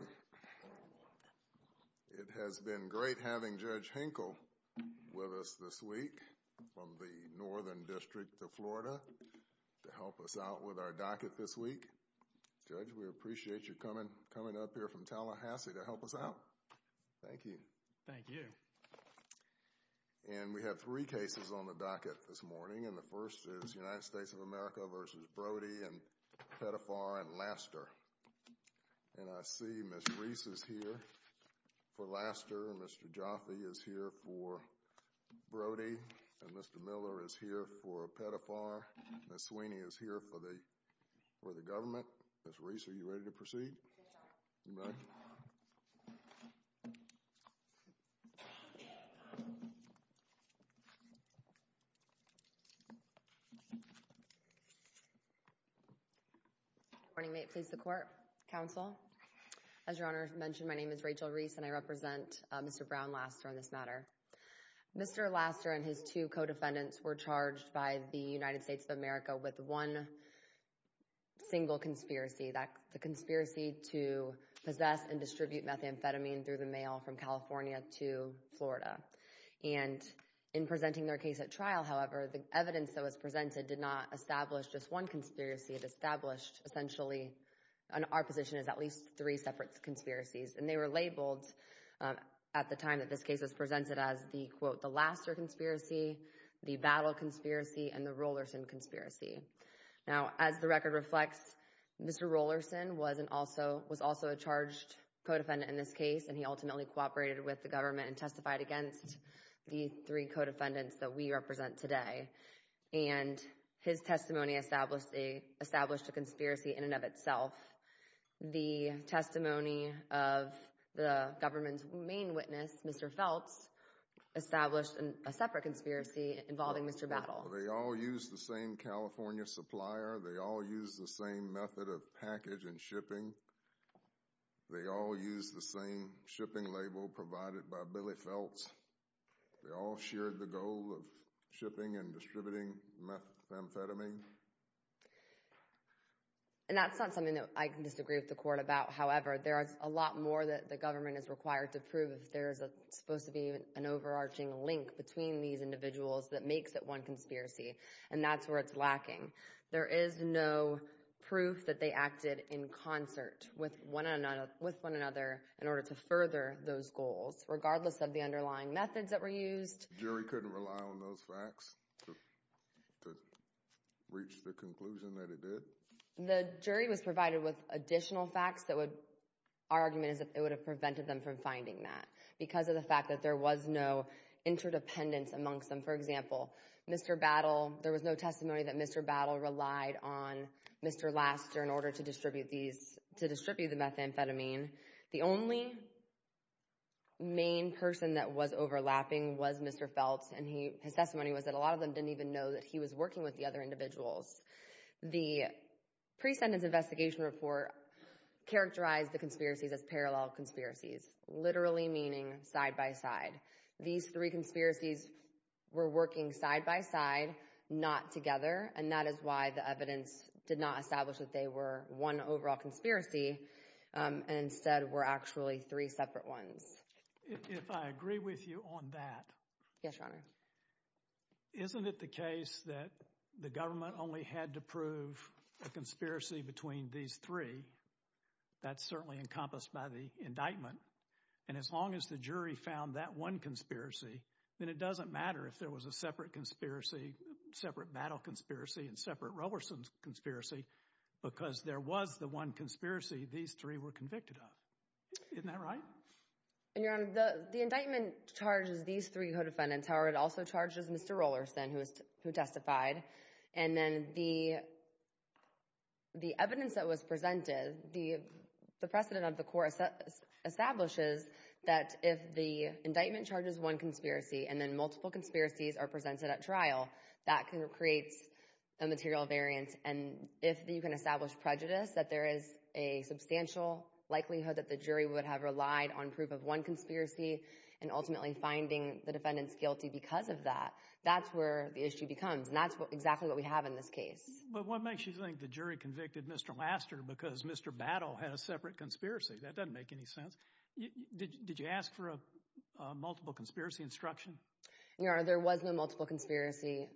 It has been great having Judge Hinkle with us this week from the Northern District of Florida to help us out with our docket this week. Judge, we appreciate you coming up here from Tallahassee to help us out. Thank you. Thank you. And we have three cases on the docket this morning, and the first is United States of And I see Ms. Reese is here for Lasseter, Mr. Jaffe is here for Browdy, and Mr. Miller is here for Pettifar, and Ms. Sweeney is here for the government. Ms. Reese, are you ready to proceed? Yes, Your Honor. You may. I'm ready. Good morning. May it please the Court, Counsel. As Your Honor mentioned, my name is Rachel Reese, and I represent Mr. Brown Lasseter on this matter. Mr. Lasseter and his two co-defendants were charged by the United States of America with one single conspiracy, the conspiracy to possess and distribute methamphetamine through the mail from California to Florida. And in presenting their case at trial, however, the evidence that was presented did not establish just one conspiracy. It established, essentially, our position is at least three separate conspiracies. And they were labeled at the time that this case was presented as the, quote, the Lasseter conspiracy, the Battle conspiracy, and the Rollerson conspiracy. Now, as the record reflects, Mr. Rollerson was also a charged co-defendant in this case, and he ultimately cooperated with the government and testified against the three co-defendants that we represent today. And his testimony established a conspiracy in and of itself. The testimony of the government's main witness, Mr. Phelps, established a separate conspiracy involving Mr. Battle. They all used the same California supplier. They all used the same method of package and shipping. They all used the same shipping label provided by Billy Phelps. They all shared the goal of shipping and distributing methamphetamine. And that's not something that I can disagree with the court about. However, there is a lot more that the government is required to prove if there is supposed to be an overarching link between these individuals that makes it one conspiracy. And that's where it's lacking. There is no proof that they acted in concert with one another in order to further those goals, regardless of the underlying methods that were used. The jury couldn't rely on those facts to reach the conclusion that it did? The jury was provided with additional facts that would, our argument is that it would have prevented them from finding that because of the fact that there was no interdependence amongst them. For example, Mr. Battle, there was no testimony that Mr. Battle relied on Mr. Laster in order to distribute these, to distribute the methamphetamine. The only main person that was overlapping was Mr. Phelps, and his testimony was that a lot of them didn't even know that he was working with the other individuals. The pre-sentence investigation report characterized the conspiracies as parallel conspiracies, literally meaning side by side. These three conspiracies were working side by side, not together, and that is why the evidence did not establish that they were one overall conspiracy. Instead, were actually three separate ones. If I agree with you on that. Yes, Your Honor. Isn't it the case that the government only had to prove a conspiracy between these three? That's certainly encompassed by the indictment, and as long as the jury found that one conspiracy, then it doesn't matter if there was a separate conspiracy, separate Battle conspiracy, and separate Roberson's conspiracy, because there was the one conspiracy these three were convicted of. Isn't that right? Your Honor, the indictment charges these three co-defendants. However, it also charges Mr. Roberson, who testified, and then the evidence that was presented, the precedent of the court establishes that if the indictment charges one conspiracy, and then multiple conspiracies are presented at trial, that creates a material variance, and if you can establish prejudice, that there is a substantial likelihood that the jury would have relied on proof of one conspiracy, and ultimately finding the defendants guilty because of that. That's where the issue becomes, and that's exactly what we have in this case. But what makes you think the jury convicted Mr. Laster because Mr. Battle had a separate conspiracy? That doesn't make any sense. Did you ask for a multiple conspiracy instruction? Your Honor, there was no multiple conspiracy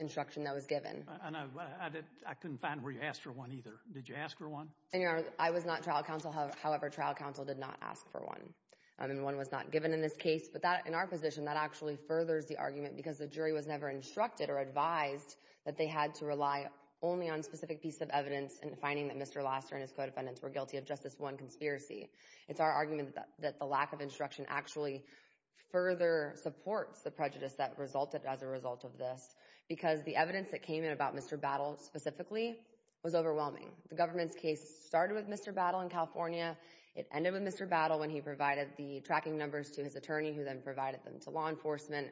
instruction that was given. I know, but I couldn't find where you asked for one either. Did you ask for one? Your Honor, I was not trial counsel. However, trial counsel did not ask for one, and one was not given in this case. But in our position, that actually furthers the argument because the jury was never instructed or advised that they had to rely only on specific pieces of evidence in finding that Mr. Laster and his co-defendants were guilty of just this one conspiracy. It's our argument that the lack of instruction actually further supports the prejudice that resulted as a result of this because the evidence that came in about Mr. Battle specifically was overwhelming. The government's case started with Mr. Battle in California. It ended with Mr. Battle when he provided the tracking numbers to his attorney who then provided them to law enforcement,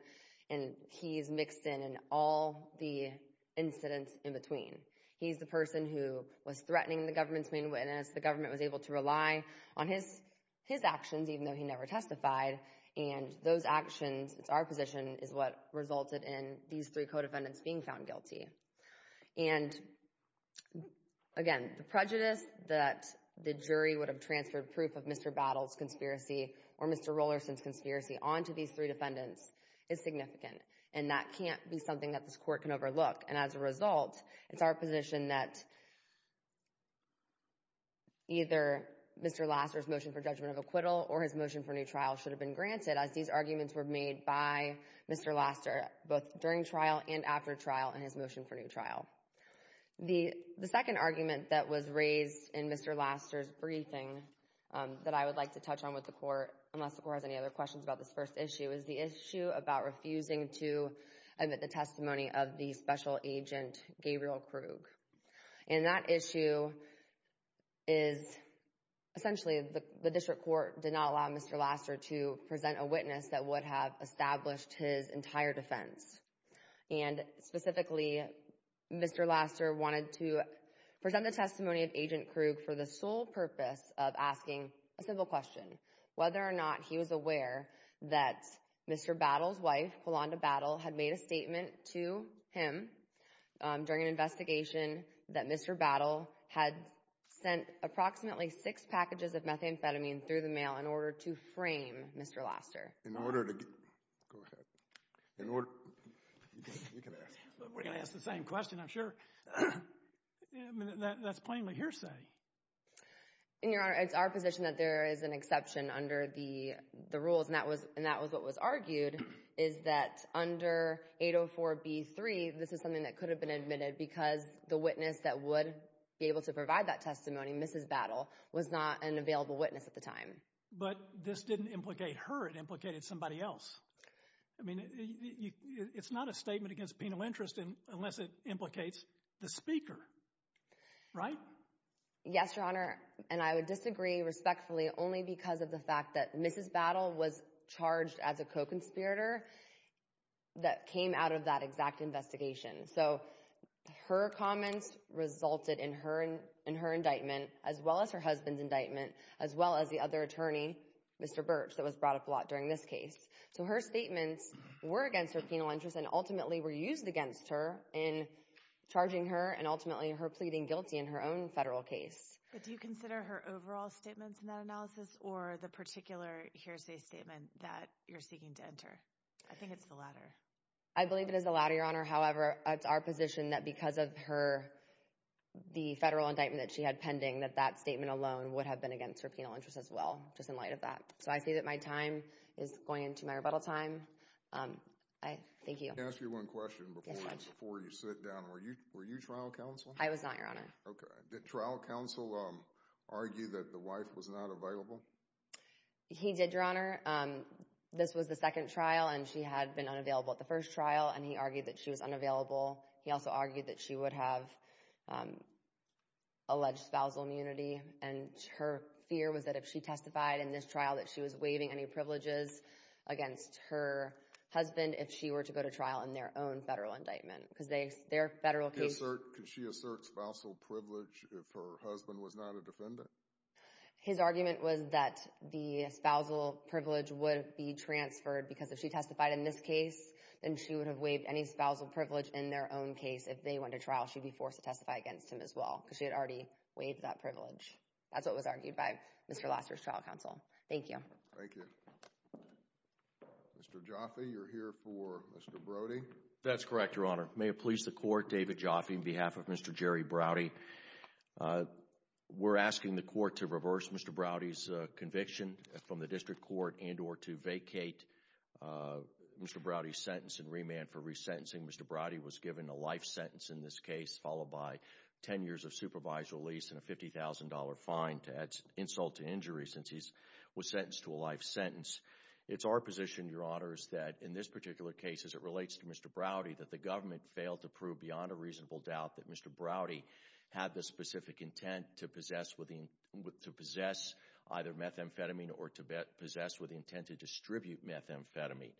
and he's mixed in in all the incidents in between. He's the person who was threatening the government's main witness. The government was able to rely on his actions even though he never testified, and those actions, it's our position, is what resulted in these three co-defendants being found guilty. And again, the prejudice that the jury would have transferred proof of Mr. Battle's conspiracy or Mr. Rollerson's conspiracy onto these three defendants is significant, and that can't be something that this court can overlook. And as a result, it's our position that either Mr. Laster's motion for judgment of acquittal or his motion for new trial should have been granted as these arguments were made by Mr. Laster both during trial and after trial in his motion for new trial. The second argument that was raised in Mr. Laster's briefing that I would like to touch on with the court, unless the court has any other questions about this first issue, is the issue about refusing to admit the testimony of the special agent Gabriel Krug. And that issue is essentially the district court did not allow Mr. Laster to present a witness that would have established his entire defense. And specifically, Mr. Laster wanted to present the testimony of Agent Krug for the sole purpose of asking a simple question, whether or not he was aware that Mr. Battle's wife, Kalonda Battle, had made a statement to him during an investigation that Mr. Battle had sent approximately six packages of methamphetamine through the mail in order to frame Mr. Laster. In order to get—go ahead. In order—you can ask. We're going to ask the same question, I'm sure. That's plainly hearsay. And, Your Honor, it's our position that there is an exception under the rules, and that was what was argued, is that under 804B3, this is something that could have been admitted because the witness that would be able to provide that testimony, Mrs. Battle, was not an available witness at the time. But this didn't implicate her. It implicated somebody else. I mean, it's not a statement against penal interest unless it implicates the speaker, right? Yes, Your Honor, and I would disagree respectfully only because of the fact that Mrs. Battle was charged as a co-conspirator that came out of that exact investigation. So her comments resulted in her indictment, as well as her husband's indictment, as well as the other attorney, Mr. Birch, that was brought up a lot during this case. So her statements were against her penal interest and ultimately were used against her in charging her and ultimately her pleading guilty in her own federal case. But do you consider her overall statements in that analysis or the particular hearsay statement that you're seeking to enter? I think it's the latter. I believe it is the latter, Your Honor. However, it's our position that because of her, the federal indictment that she had pending, that that statement alone would have been against her penal interest as well, just in light of that. So I say that my time is going into my rebuttal time. Thank you. Let me ask you one question before you sit down. Were you trial counsel? I was not, Your Honor. Okay. Did trial counsel argue that the wife was not available? He did, Your Honor. This was the second trial, and she had been unavailable at the first trial, and he argued that she was unavailable. He also argued that she would have alleged spousal immunity, and her fear was that if she testified in this trial that she was waiving any privileges against her husband, if she were to go to trial in their own federal indictment. Could she assert spousal privilege if her husband was not a defendant? His argument was that the spousal privilege would be transferred because if she testified in this case, then she would have waived any spousal privilege in their own case. If they went to trial, she would be forced to testify against him as well because she had already waived that privilege. That's what was argued by Mr. Lasseter's trial counsel. Thank you. Thank you. Mr. Jaffe, you're here for Mr. Brody. That's correct, Your Honor. May it please the Court, David Jaffe on behalf of Mr. Jerry Brody. We're asking the Court to reverse Mr. Brody's conviction from the district court and or to vacate Mr. Brody's sentence and remand for resentencing. Mr. Brody was given a life sentence in this case, followed by 10 years of supervised release and a $50,000 fine to add insult to injury since he was sentenced to a life sentence. It's our position, Your Honor, is that in this particular case, as it relates to Mr. Brody, that the government failed to prove beyond a reasonable doubt that Mr. Brody had the specific intent to possess either methamphetamine or to possess with the intent to distribute methamphetamine.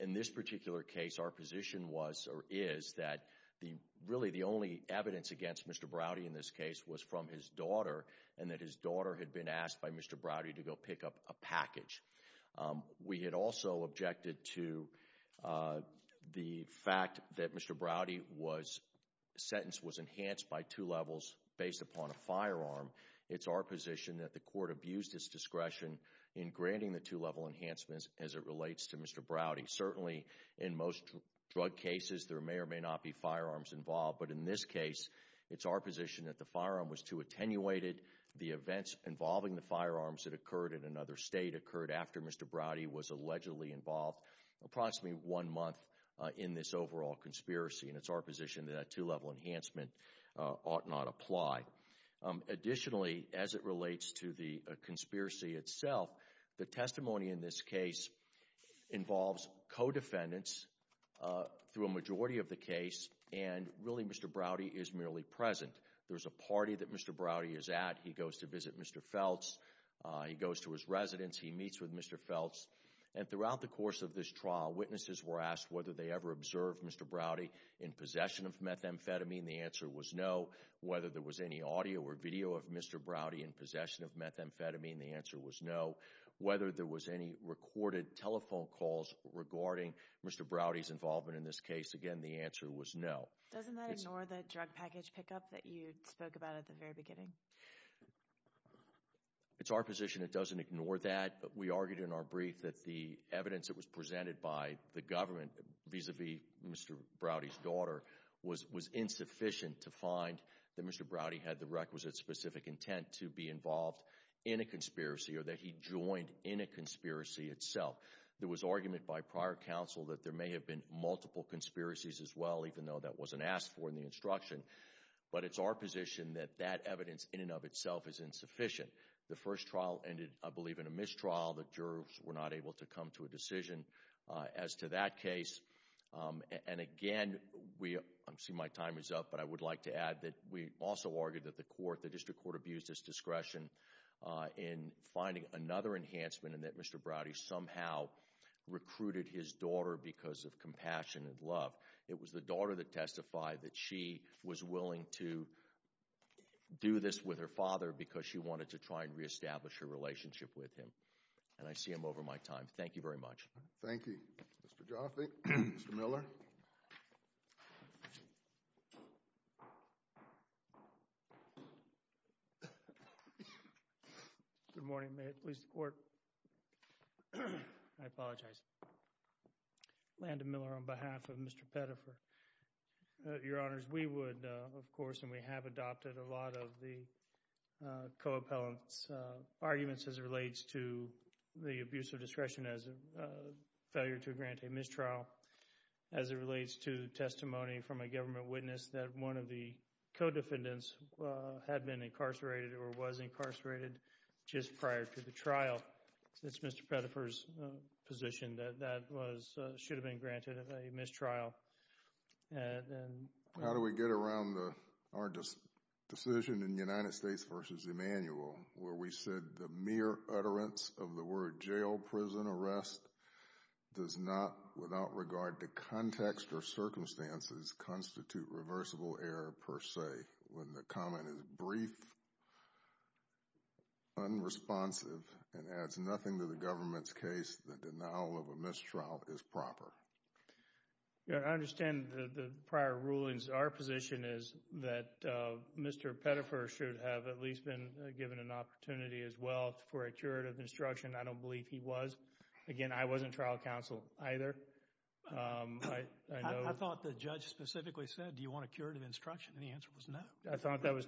In this particular case, our position was or is that really the only evidence against Mr. Brody in this case was from his daughter and that his daughter had been asked by Mr. Brody to go pick up a package. We had also objected to the fact that Mr. Brody's sentence was enhanced by two levels based upon a firearm. It's our position that the Court abused its discretion in granting the two-level enhancements as it relates to Mr. Brody. Certainly, in most drug cases, there may or may not be firearms involved, but in this case, it's our position that the firearm was too attenuated. The events involving the firearms that occurred in another state occurred after Mr. Brody was allegedly involved approximately one month in this overall conspiracy, and it's our position that a two-level enhancement ought not apply. Additionally, as it relates to the conspiracy itself, the testimony in this case involves co-defendants through a majority of the case, and really Mr. Brody is merely present. There's a party that Mr. Brody is at. He goes to visit Mr. Feltz. He goes to his residence. He meets with Mr. Feltz. And throughout the course of this trial, witnesses were asked whether they ever observed Mr. Brody in possession of methamphetamine. The answer was no. Whether there was any audio or video of Mr. Brody in possession of methamphetamine, the answer was no. Whether there was any recorded telephone calls regarding Mr. Brody's involvement in this case, again, the answer was no. Doesn't that ignore the drug package pickup that you spoke about at the very beginning? It's our position it doesn't ignore that. We argued in our brief that the evidence that was presented by the government vis-à-vis Mr. Brody's daughter was insufficient to find that Mr. Brody had the requisite specific intent to be involved in a conspiracy or that he joined in a conspiracy itself. There was argument by prior counsel that there may have been multiple conspiracies as well, even though that wasn't asked for in the instruction. But it's our position that that evidence in and of itself is insufficient. The first trial ended, I believe, in a mistrial. The jurors were not able to come to a decision as to that case. And again, I see my time is up, but I would like to add that we also argued that the court, abused its discretion in finding another enhancement in that Mr. Brody somehow recruited his daughter because of compassion and love. It was the daughter that testified that she was willing to do this with her father because she wanted to try and reestablish her relationship with him. And I see I'm over my time. Thank you very much. Thank you. Mr. Joffe, Mr. Miller. Good morning. May it please the Court. I apologize. Landon Miller on behalf of Mr. Pettifer. Your Honors, we would, of course, and we have adopted a lot of the co-appellant's arguments as it relates to the abuse of discretion as a failure to grant a mistrial, as it relates to testimony from a government witness that one of the co-defendants had been incarcerated or was incarcerated just prior to the trial. It's Mr. Pettifer's position that that should have been granted a mistrial. How do we get around our decision in the United States v. Emmanuel where we said the mere utterance of the word jail, prison, arrest does not, without regard to context or circumstances, constitute reversible error per se when the comment is brief, unresponsive, and adds nothing to the government's case that the denial of a mistrial is proper? I understand the prior rulings. Our position is that Mr. Pettifer should have at least been given an opportunity as well for a curative instruction. I don't believe he was. Again, I wasn't trial counsel either. I thought the judge specifically said, Do you want a curative instruction? And the answer was no. I thought that was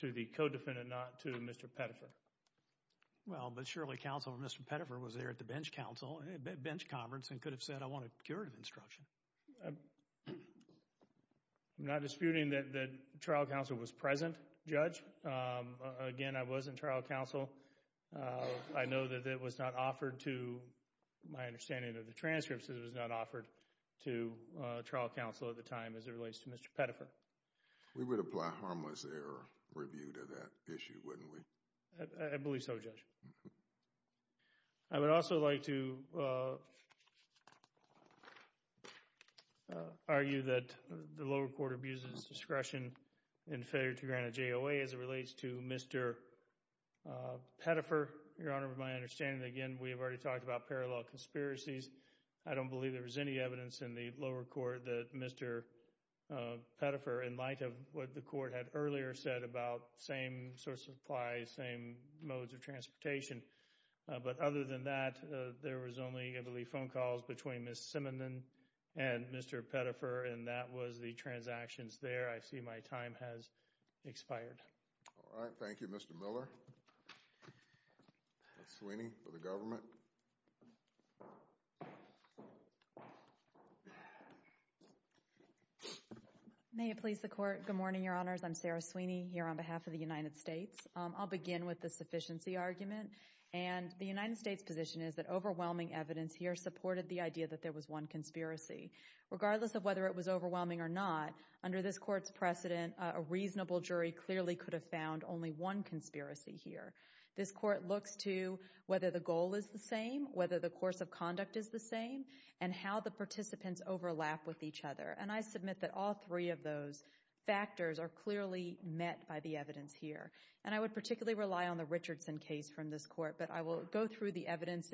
to the co-defendant, not to Mr. Pettifer. Well, but surely counsel Mr. Pettifer was there at the bench conference and could have said, I want a curative instruction. I'm not disputing that trial counsel was present, Judge. Again, I wasn't trial counsel. I know that it was not offered to, my understanding of the transcripts, it was not offered to trial counsel at the time as it relates to Mr. Pettifer. We would apply harmless error review to that issue, wouldn't we? I believe so, Judge. I would also like to argue that the lower court abuses discretion in failure to grant a JOA as it relates to Mr. Pettifer. Your Honor, with my understanding, again, we have already talked about parallel conspiracies. I don't believe there was any evidence in the lower court that Mr. Pettifer, in light of what the court had earlier said about same source of supplies, same modes of transportation. But other than that, there was only, I believe, phone calls between Ms. Simondon and Mr. Pettifer, and that was the transactions there. I see my time has expired. All right. Thank you, Mr. Miller. Ms. Sweeney for the government. May it please the Court. Good morning, Your Honors. I'm Sarah Sweeney here on behalf of the United States. I'll begin with the sufficiency argument. And the United States' position is that overwhelming evidence here supported the idea that there was one conspiracy. And a reasonable jury clearly could have found only one conspiracy here. This Court looks to whether the goal is the same, whether the course of conduct is the same, and how the participants overlap with each other. And I submit that all three of those factors are clearly met by the evidence here. And I would particularly rely on the Richardson case from this Court, but I will go through the evidence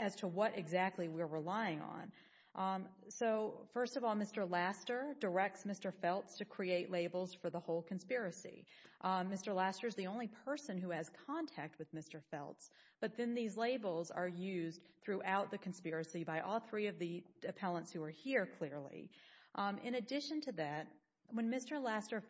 as to what exactly we're relying on. So, first of all, Mr. Laster directs Mr. Feltz to create labels for the whole conspiracy. Mr. Laster is the only person who has contact with Mr. Feltz, but then these labels are used throughout the conspiracy by all three of the appellants who are here, clearly. In addition to that, when Mr. Laster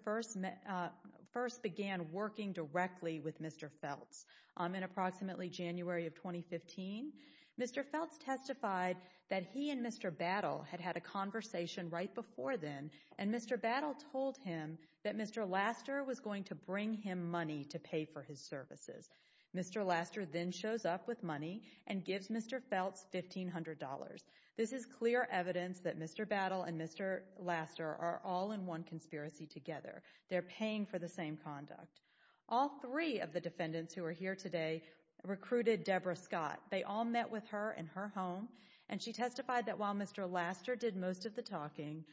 first began working directly with Mr. Feltz in approximately January of 2015, Mr. Feltz testified that he and Mr. Battle had had a conversation right before then, and Mr. Battle told him that Mr. Laster was going to bring him money to pay for his services. Mr. Laster then shows up with money and gives Mr. Feltz $1,500. This is clear evidence that Mr. Battle and Mr. Laster are all in one conspiracy together. They're paying for the same conduct. All three of the defendants who are here today recruited Deborah Scott. They all met with her in her home, and she testified that while Mr. Laster did most of the talking,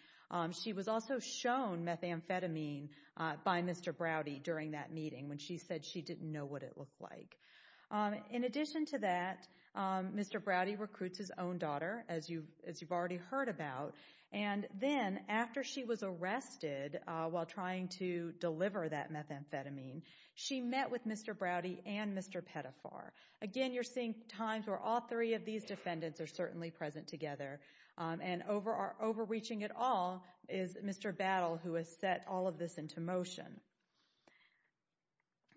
she was also shown methamphetamine by Mr. Browdy during that meeting when she said she didn't know what it looked like. In addition to that, Mr. Browdy recruits his own daughter, as you've already heard about, and then after she was arrested while trying to deliver that methamphetamine, she met with Mr. Browdy and Mr. Pettafar. Again, you're seeing times where all three of these defendants are certainly present together, and overreaching it all is Mr. Battle, who has set all of this into motion.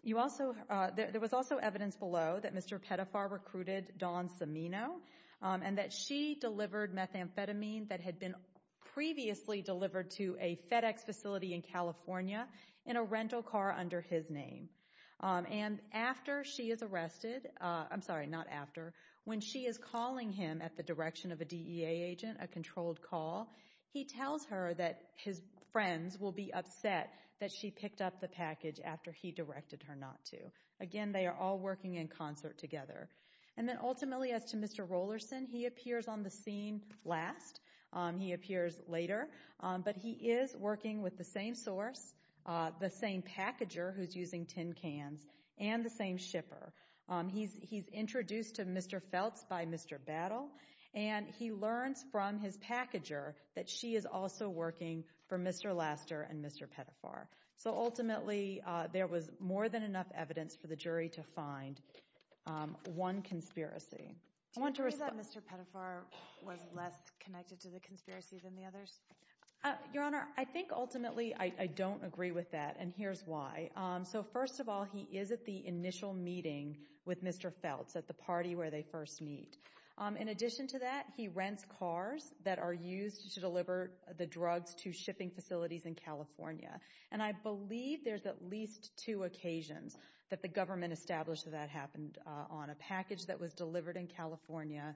There was also evidence below that Mr. Pettafar recruited Dawn Cimino and that she delivered methamphetamine that had been previously delivered to a FedEx facility in California in a rental car under his name. And after she is arrested, I'm sorry, not after, when she is calling him at the direction of a DEA agent, a controlled call, he tells her that his friends will be upset that she picked up the package after he directed her not to. Again, they are all working in concert together. And then ultimately as to Mr. Rollerson, he appears on the scene last. He appears later, but he is working with the same source, the same packager who's using tin cans, and the same shipper. He's introduced to Mr. Feltz by Mr. Battle, and he learns from his packager that she is also working for Mr. Laster and Mr. Pettafar. So ultimately there was more than enough evidence for the jury to find one conspiracy. Do you agree that Mr. Pettafar was less connected to the conspiracy than the others? Your Honor, I think ultimately I don't agree with that, and here's why. So first of all, he is at the initial meeting with Mr. Feltz at the party where they first meet. In addition to that, he rents cars that are used to deliver the drugs to shipping facilities in California. And I believe there's at least two occasions that the government established that that happened. On a package that was delivered in California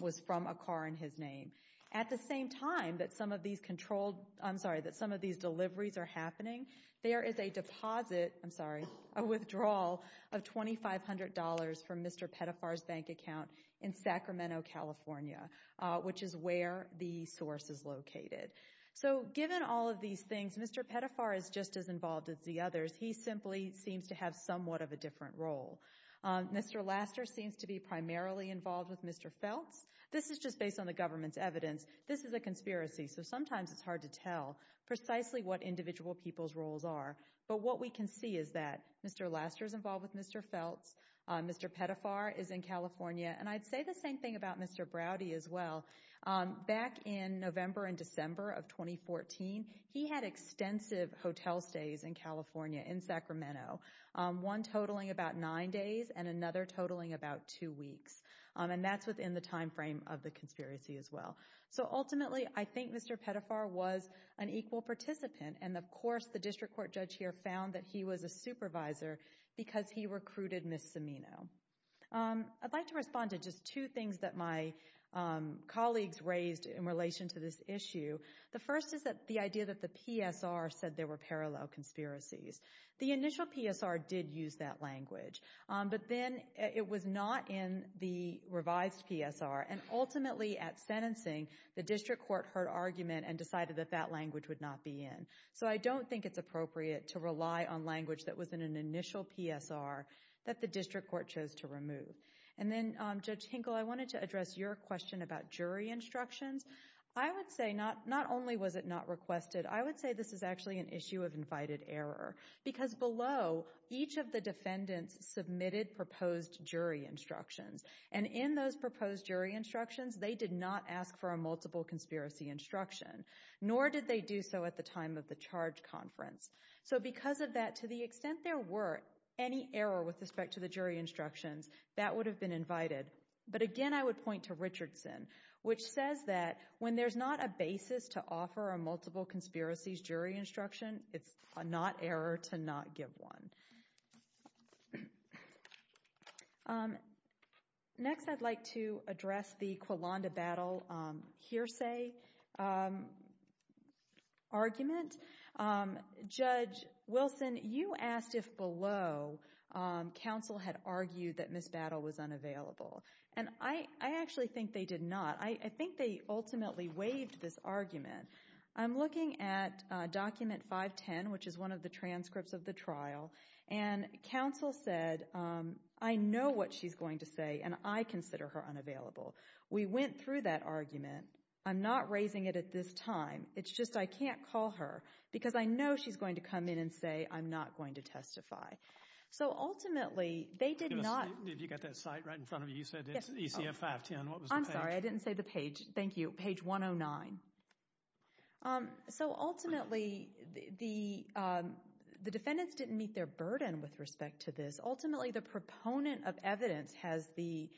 was from a car in his name. At the same time that some of these controlled, I'm sorry, that some of these deliveries are happening, there is a deposit, I'm sorry, a withdrawal of $2,500 from Mr. Pettafar's bank account in Sacramento, California, which is where the source is located. So given all of these things, Mr. Pettafar is just as involved as the others. He simply seems to have somewhat of a different role. Mr. Laster seems to be primarily involved with Mr. Feltz. This is just based on the government's evidence. This is a conspiracy, so sometimes it's hard to tell precisely what individual people's roles are. But what we can see is that Mr. Laster is involved with Mr. Feltz. Mr. Pettafar is in California. And I'd say the same thing about Mr. Browdy as well. Back in November and December of 2014, he had extensive hotel stays in California, in Sacramento, one totaling about nine days and another totaling about two weeks. And that's within the time frame of the conspiracy as well. So ultimately, I think Mr. Pettafar was an equal participant. And, of course, the district court judge here found that he was a supervisor because he recruited Ms. Cimino. I'd like to respond to just two things that my colleagues raised in relation to this issue. The first is the idea that the PSR said there were parallel conspiracies. The initial PSR did use that language, but then it was not in the revised PSR. And ultimately, at sentencing, the district court heard argument and decided that that language would not be in. So I don't think it's appropriate to rely on language that was in an initial PSR that the district court chose to remove. And then, Judge Hinkle, I wanted to address your question about jury instructions. I would say not only was it not requested, I would say this is actually an issue of invited error because below, each of the defendants submitted proposed jury instructions. And in those proposed jury instructions, they did not ask for a multiple conspiracy instruction, nor did they do so at the time of the charge conference. So because of that, to the extent there were any error with respect to the jury instructions, that would have been invited. But again, I would point to Richardson, which says that when there's not a basis to offer a multiple conspiracies jury instruction, it's a not error to not give one. Next, I'd like to address the Quilanda Battle hearsay argument. Judge Wilson, you asked if below, counsel had argued that Ms. Battle was unavailable. And I actually think they did not. I think they ultimately waived this argument. I'm looking at document 510, which is one of the transcripts of the trial, and counsel said, I know what she's going to say, and I consider her unavailable. We went through that argument. I'm not raising it at this time. It's just I can't call her because I know she's going to come in and say, I'm not going to testify. So ultimately, they did not. Did you get that site right in front of you? You said it's ECF 510. I'm sorry, I didn't say the page. Thank you. Page 109. So ultimately, the defendants didn't meet their burden with respect to this. Ultimately, the proponent of evidence has the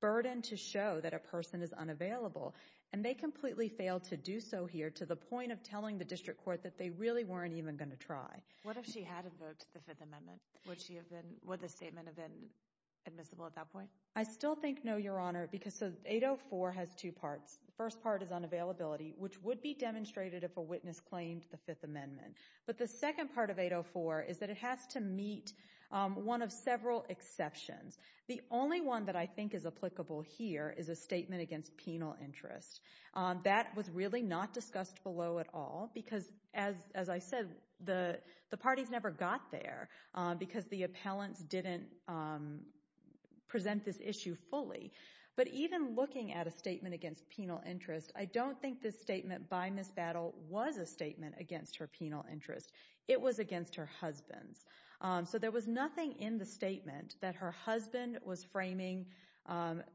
burden to show that a person is unavailable. And they completely failed to do so here to the point of telling the district court that they really weren't even going to try. What if she had a vote to the Fifth Amendment? Would the statement have been admissible at that point? I still think no, Your Honor, because 804 has two parts. The first part is unavailability, which would be demonstrated if a witness claimed the Fifth Amendment. But the second part of 804 is that it has to meet one of several exceptions. The only one that I think is applicable here is a statement against penal interest. That was really not discussed below at all because, as I said, the parties never got there because the appellants didn't present this issue fully. But even looking at a statement against penal interest, I don't think this statement by Ms. Battle was a statement against her penal interest. It was against her husband's. So there was nothing in the statement that her husband was framing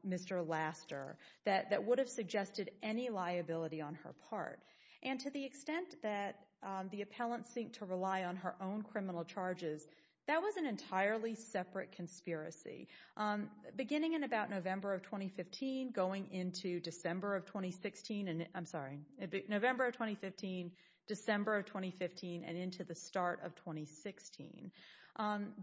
Mr. Laster that would have suggested any liability on her part. And to the extent that the appellant seemed to rely on her own criminal charges, that was an entirely separate conspiracy. Beginning in about November of 2015, going into December of 2016—I'm sorry, November of 2015, December of 2015, and into the start of 2016,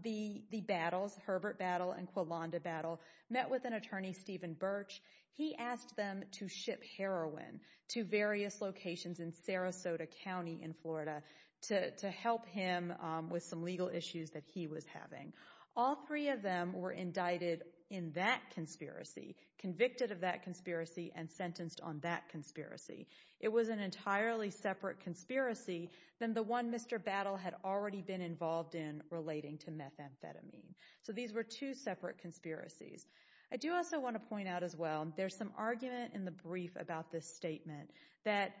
the Battles, Herbert Battle and Quilonda Battle, met with an attorney, Stephen Birch. He asked them to ship heroin to various locations in Sarasota County in Florida to help him with some legal issues that he was having. All three of them were indicted in that conspiracy, convicted of that conspiracy, and sentenced on that conspiracy. It was an entirely separate conspiracy than the one Mr. Battle had already been involved in relating to methamphetamine. So these were two separate conspiracies. I do also want to point out as well, there's some argument in the brief about this statement that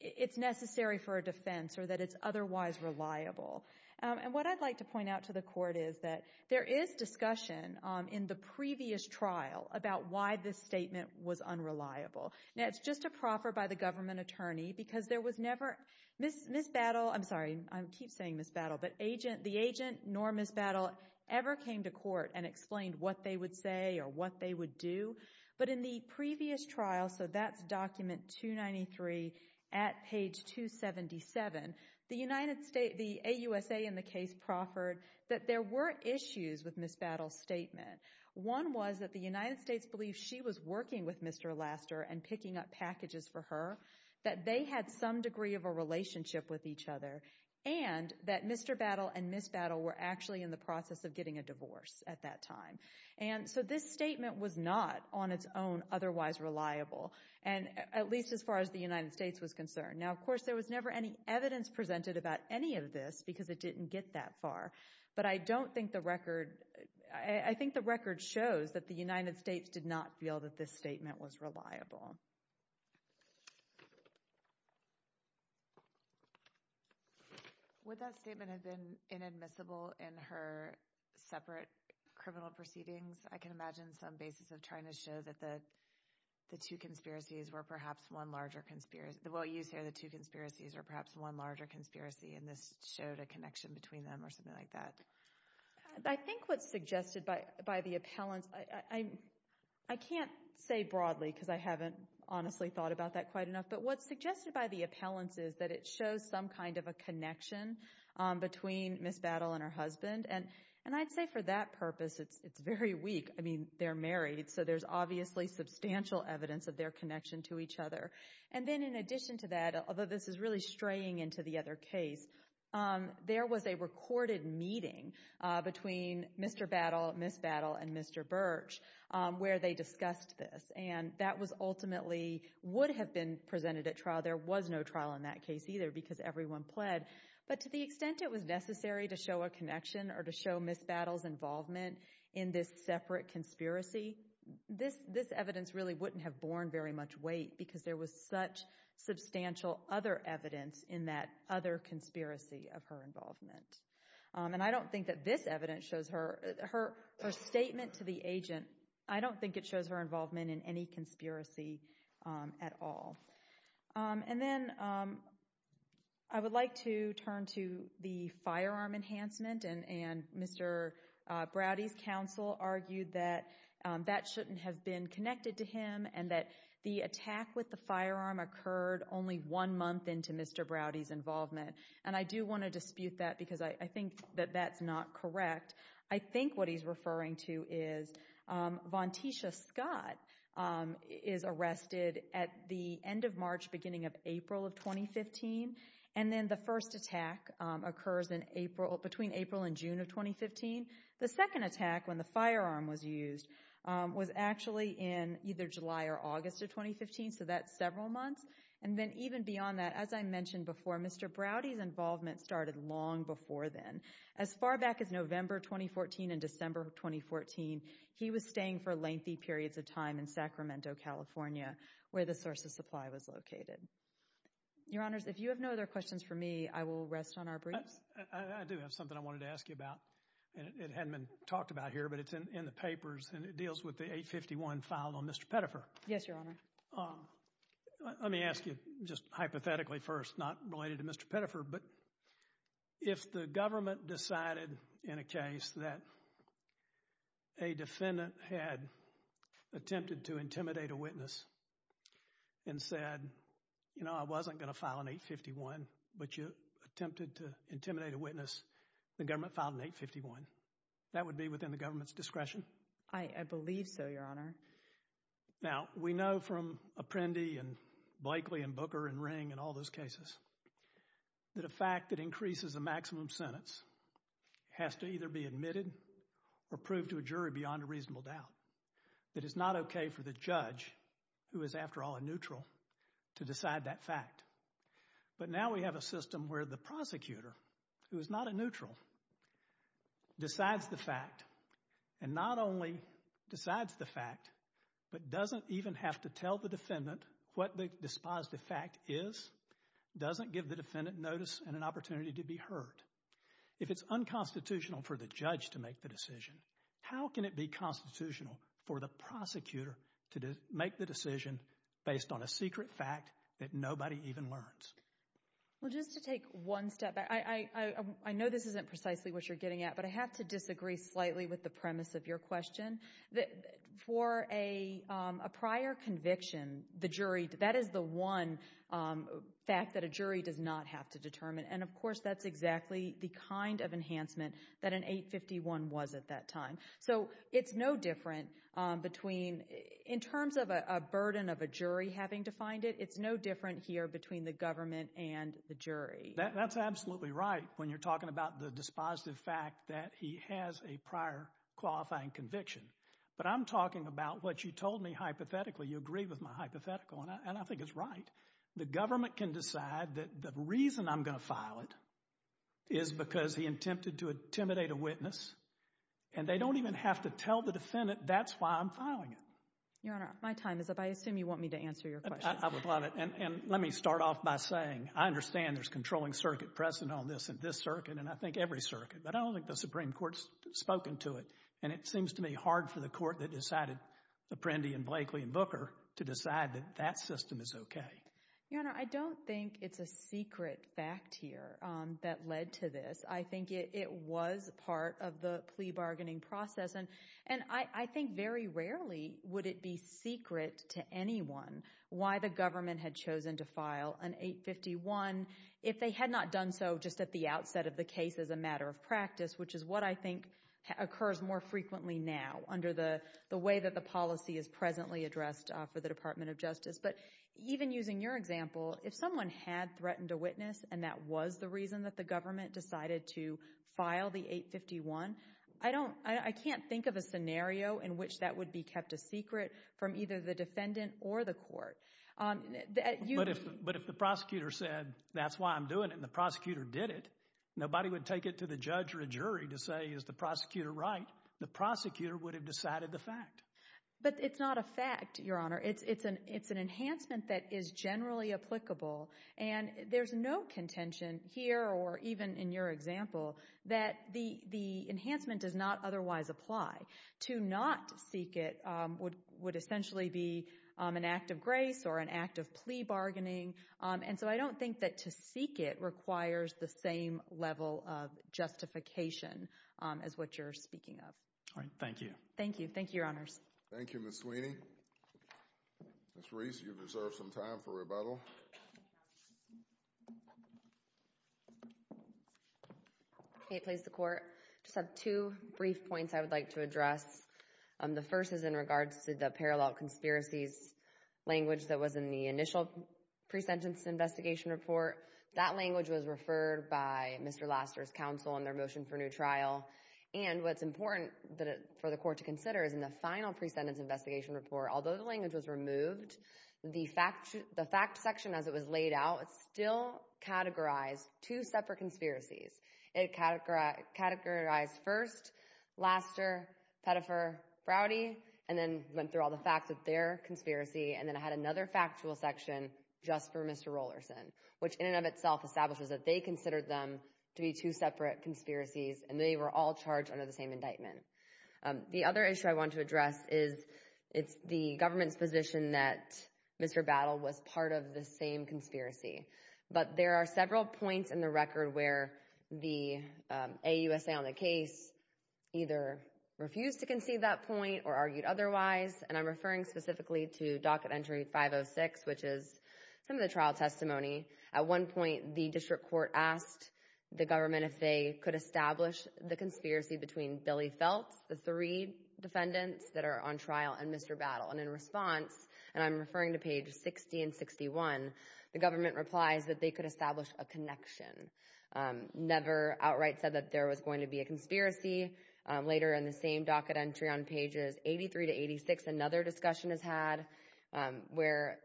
it's necessary for a defense or that it's otherwise reliable. And what I'd like to point out to the Court is that there is discussion in the previous trial about why this statement was unreliable. Now, it's just a proffer by the government attorney because there was never— I'm sorry, I keep saying Ms. Battle, but the agent nor Ms. Battle ever came to court and explained what they would say or what they would do. But in the previous trial, so that's document 293 at page 277, the AUSA in the case proffered that there were issues with Ms. Battle's statement. One was that the United States believed she was working with Mr. Laster and picking up packages for her, that they had some degree of a relationship with each other, and that Mr. Battle and Ms. Battle were actually in the process of getting a divorce at that time. And so this statement was not on its own otherwise reliable, at least as far as the United States was concerned. Now, of course, there was never any evidence presented about any of this because it didn't get that far. But I don't think the record—I think the record shows that the United States did not feel that this statement was reliable. Would that statement have been inadmissible in her separate criminal proceedings? I can imagine some basis of trying to show that the two conspiracies were perhaps one larger— well, you said the two conspiracies were perhaps one larger conspiracy, and this showed a connection between them or something like that. I think what's suggested by the appellants—I can't say broadly because I haven't honestly thought about that quite enough, but what's suggested by the appellants is that it shows some kind of a connection between Ms. Battle and her husband. And I'd say for that purpose, it's very weak. I mean, they're married, so there's obviously substantial evidence of their connection to each other. And then in addition to that, although this is really straying into the other case, there was a recorded meeting between Mr. Battle, Ms. Battle, and Mr. Birch where they discussed this. And that was ultimately—would have been presented at trial. There was no trial in that case either because everyone pled. But to the extent it was necessary to show a connection or to show Ms. Battle's involvement in this separate conspiracy, this evidence really wouldn't have borne very much weight because there was such substantial other evidence in that other conspiracy of her involvement. And I don't think that this evidence shows her—her statement to the agent, I don't think it shows her involvement in any conspiracy at all. And then I would like to turn to the firearm enhancement. And Mr. Browdy's counsel argued that that shouldn't have been connected to him and that the attack with the firearm occurred only one month into Mr. Browdy's involvement. And I do want to dispute that because I think that that's not correct. I think what he's referring to is Vontisha Scott is arrested at the end of March, beginning of April of 2015. And then the first attack occurs in April—between April and June of 2015. The second attack, when the firearm was used, was actually in either July or August of 2015. So that's several months. And then even beyond that, as I mentioned before, Mr. Browdy's involvement started long before then. As far back as November 2014 and December 2014, he was staying for lengthy periods of time in Sacramento, California, where the source of supply was located. Your Honors, if you have no other questions for me, I will rest on our briefs. I do have something I wanted to ask you about. It hadn't been talked about here, but it's in the papers, and it deals with the 851 filed on Mr. Pettifer. Yes, Your Honor. Let me ask you just hypothetically first, not related to Mr. Pettifer, but if the government decided in a case that a defendant had attempted to intimidate a witness and said, you know, I wasn't going to file an 851, but you attempted to intimidate a witness, the government filed an 851, that would be within the government's discretion? I believe so, Your Honor. Now, we know from Apprendi and Blakely and Booker and Ring and all those cases that a fact that increases a maximum sentence has to either be admitted or proved to a jury beyond a reasonable doubt. That it's not okay for the judge, who is after all a neutral, to decide that fact. But now we have a system where the prosecutor, who is not a neutral, decides the fact and not only decides the fact, but doesn't even have to tell the defendant what the dispositive fact is, doesn't give the defendant notice and an opportunity to be heard. If it's unconstitutional for the judge to make the decision, how can it be constitutional for the prosecutor to make the decision based on a secret fact that nobody even learns? Well, just to take one step back, I know this isn't precisely what you're getting at, but I have to disagree slightly with the premise of your question. For a prior conviction, that is the one fact that a jury does not have to determine, and of course that's exactly the kind of enhancement that an 851 was at that time. So it's no different between, in terms of a burden of a jury having to find it, it's no different here between the government and the jury. That's absolutely right when you're talking about the dispositive fact that he has a prior qualifying conviction. But I'm talking about what you told me hypothetically. You agree with my hypothetical, and I think it's right. The government can decide that the reason I'm going to file it is because he attempted to intimidate a witness, and they don't even have to tell the defendant that's why I'm filing it. Your Honor, my time is up. I assume you want me to answer your questions. I would love it. And let me start off by saying, I understand there's a controlling circuit present on this, and this circuit, and I think every circuit, but I don't think the Supreme Court's spoken to it, and it seems to me hard for the court that decided, the Prendi and Blakely and Booker, to decide that that system is okay. Your Honor, I don't think it's a secret fact here that led to this. I think it was part of the plea bargaining process, and I think very rarely would it be secret to anyone why the government had chosen to file an 851 if they had not done so just at the outset of the case as a matter of practice, which is what I think occurs more frequently now under the way that the policy is presently addressed for the Department of Justice. But even using your example, if someone had threatened a witness and that was the reason that the government decided to file the 851, I can't think of a scenario in which that would be kept a secret from either the defendant or the court. But if the prosecutor said, that's why I'm doing it, and the prosecutor did it, nobody would take it to the judge or a jury to say, is the prosecutor right? The prosecutor would have decided the fact. But it's not a fact, Your Honor. It's an enhancement that is generally applicable, and there's no contention here or even in your example that the enhancement does not otherwise apply. To not seek it would essentially be an act of grace or an act of plea bargaining, and so I don't think that to seek it requires the same level of justification as what you're speaking of. All right. Thank you. Thank you. Thank you, Your Honors. Thank you, Ms. Sweeney. Ms. Reese, you deserve some time for rebuttal. May it please the Court. I just have two brief points I would like to address. The first is in regards to the parallel conspiracies language that was in the initial pre-sentence investigation report. That language was referred by Mr. Laster's counsel in their motion for new trial, and what's important for the Court to consider is in the final pre-sentence investigation report, although the language was removed, the fact section as it was laid out still categorized two separate conspiracies. It categorized first Laster, Pettifer, Browdy, and then went through all the facts of their conspiracy, and then it had another factual section just for Mr. Rolerson, which in and of itself establishes that they considered them to be two separate conspiracies, and they were all charged under the same indictment. The other issue I want to address is it's the government's position that Mr. Battle was part of the same conspiracy, but there are several points in the record where the AUSA on the case either refused to concede that point or argued otherwise, and I'm referring specifically to docket entry 506, which is some of the trial testimony. At one point, the district court asked the government if they could establish the conspiracy between Billy Feltz, the three defendants that are on trial, and Mr. Battle, and in response, and I'm referring to pages 60 and 61, the government replies that they could establish a connection. Later in the same docket entry on pages 83 to 86, another discussion is had where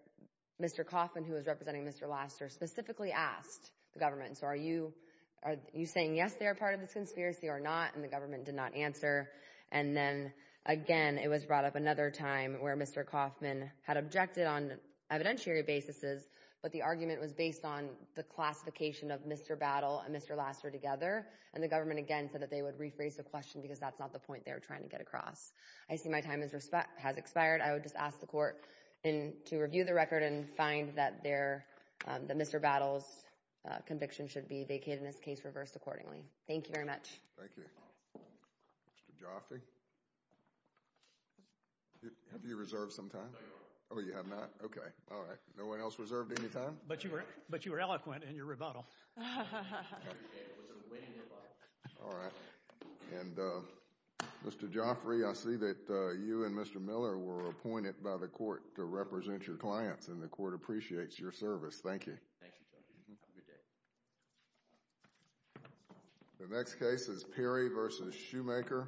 Mr. Kauffman, who was representing Mr. Laster, specifically asked the government, so are you saying yes, they are part of this conspiracy or not, and the government did not answer, and then again, it was brought up another time where Mr. Kauffman had objected on evidentiary basis, but the argument was based on the classification of Mr. Battle and Mr. Laster together, and the government again said that they would rephrase the question because that's not the point they're trying to get across. I see my time has expired. I would just ask the court to review the record and find that Mr. Battle's conviction should be vacated, and this case reversed accordingly. Thank you very much. Thank you. Mr. Jofte, have you reserved some time? No, I have not. Oh, you have not? Okay, all right. No one else reserved any time? But you were eloquent in your rebuttal. I appreciate it. It was a winning rebuttal. All right. And Mr. Jofte, I see that you and Mr. Miller were appointed by the court to represent your clients, and the court appreciates your service. Thank you. Thank you, Judge. Have a good day. The next case is Perry v. Shoemaker.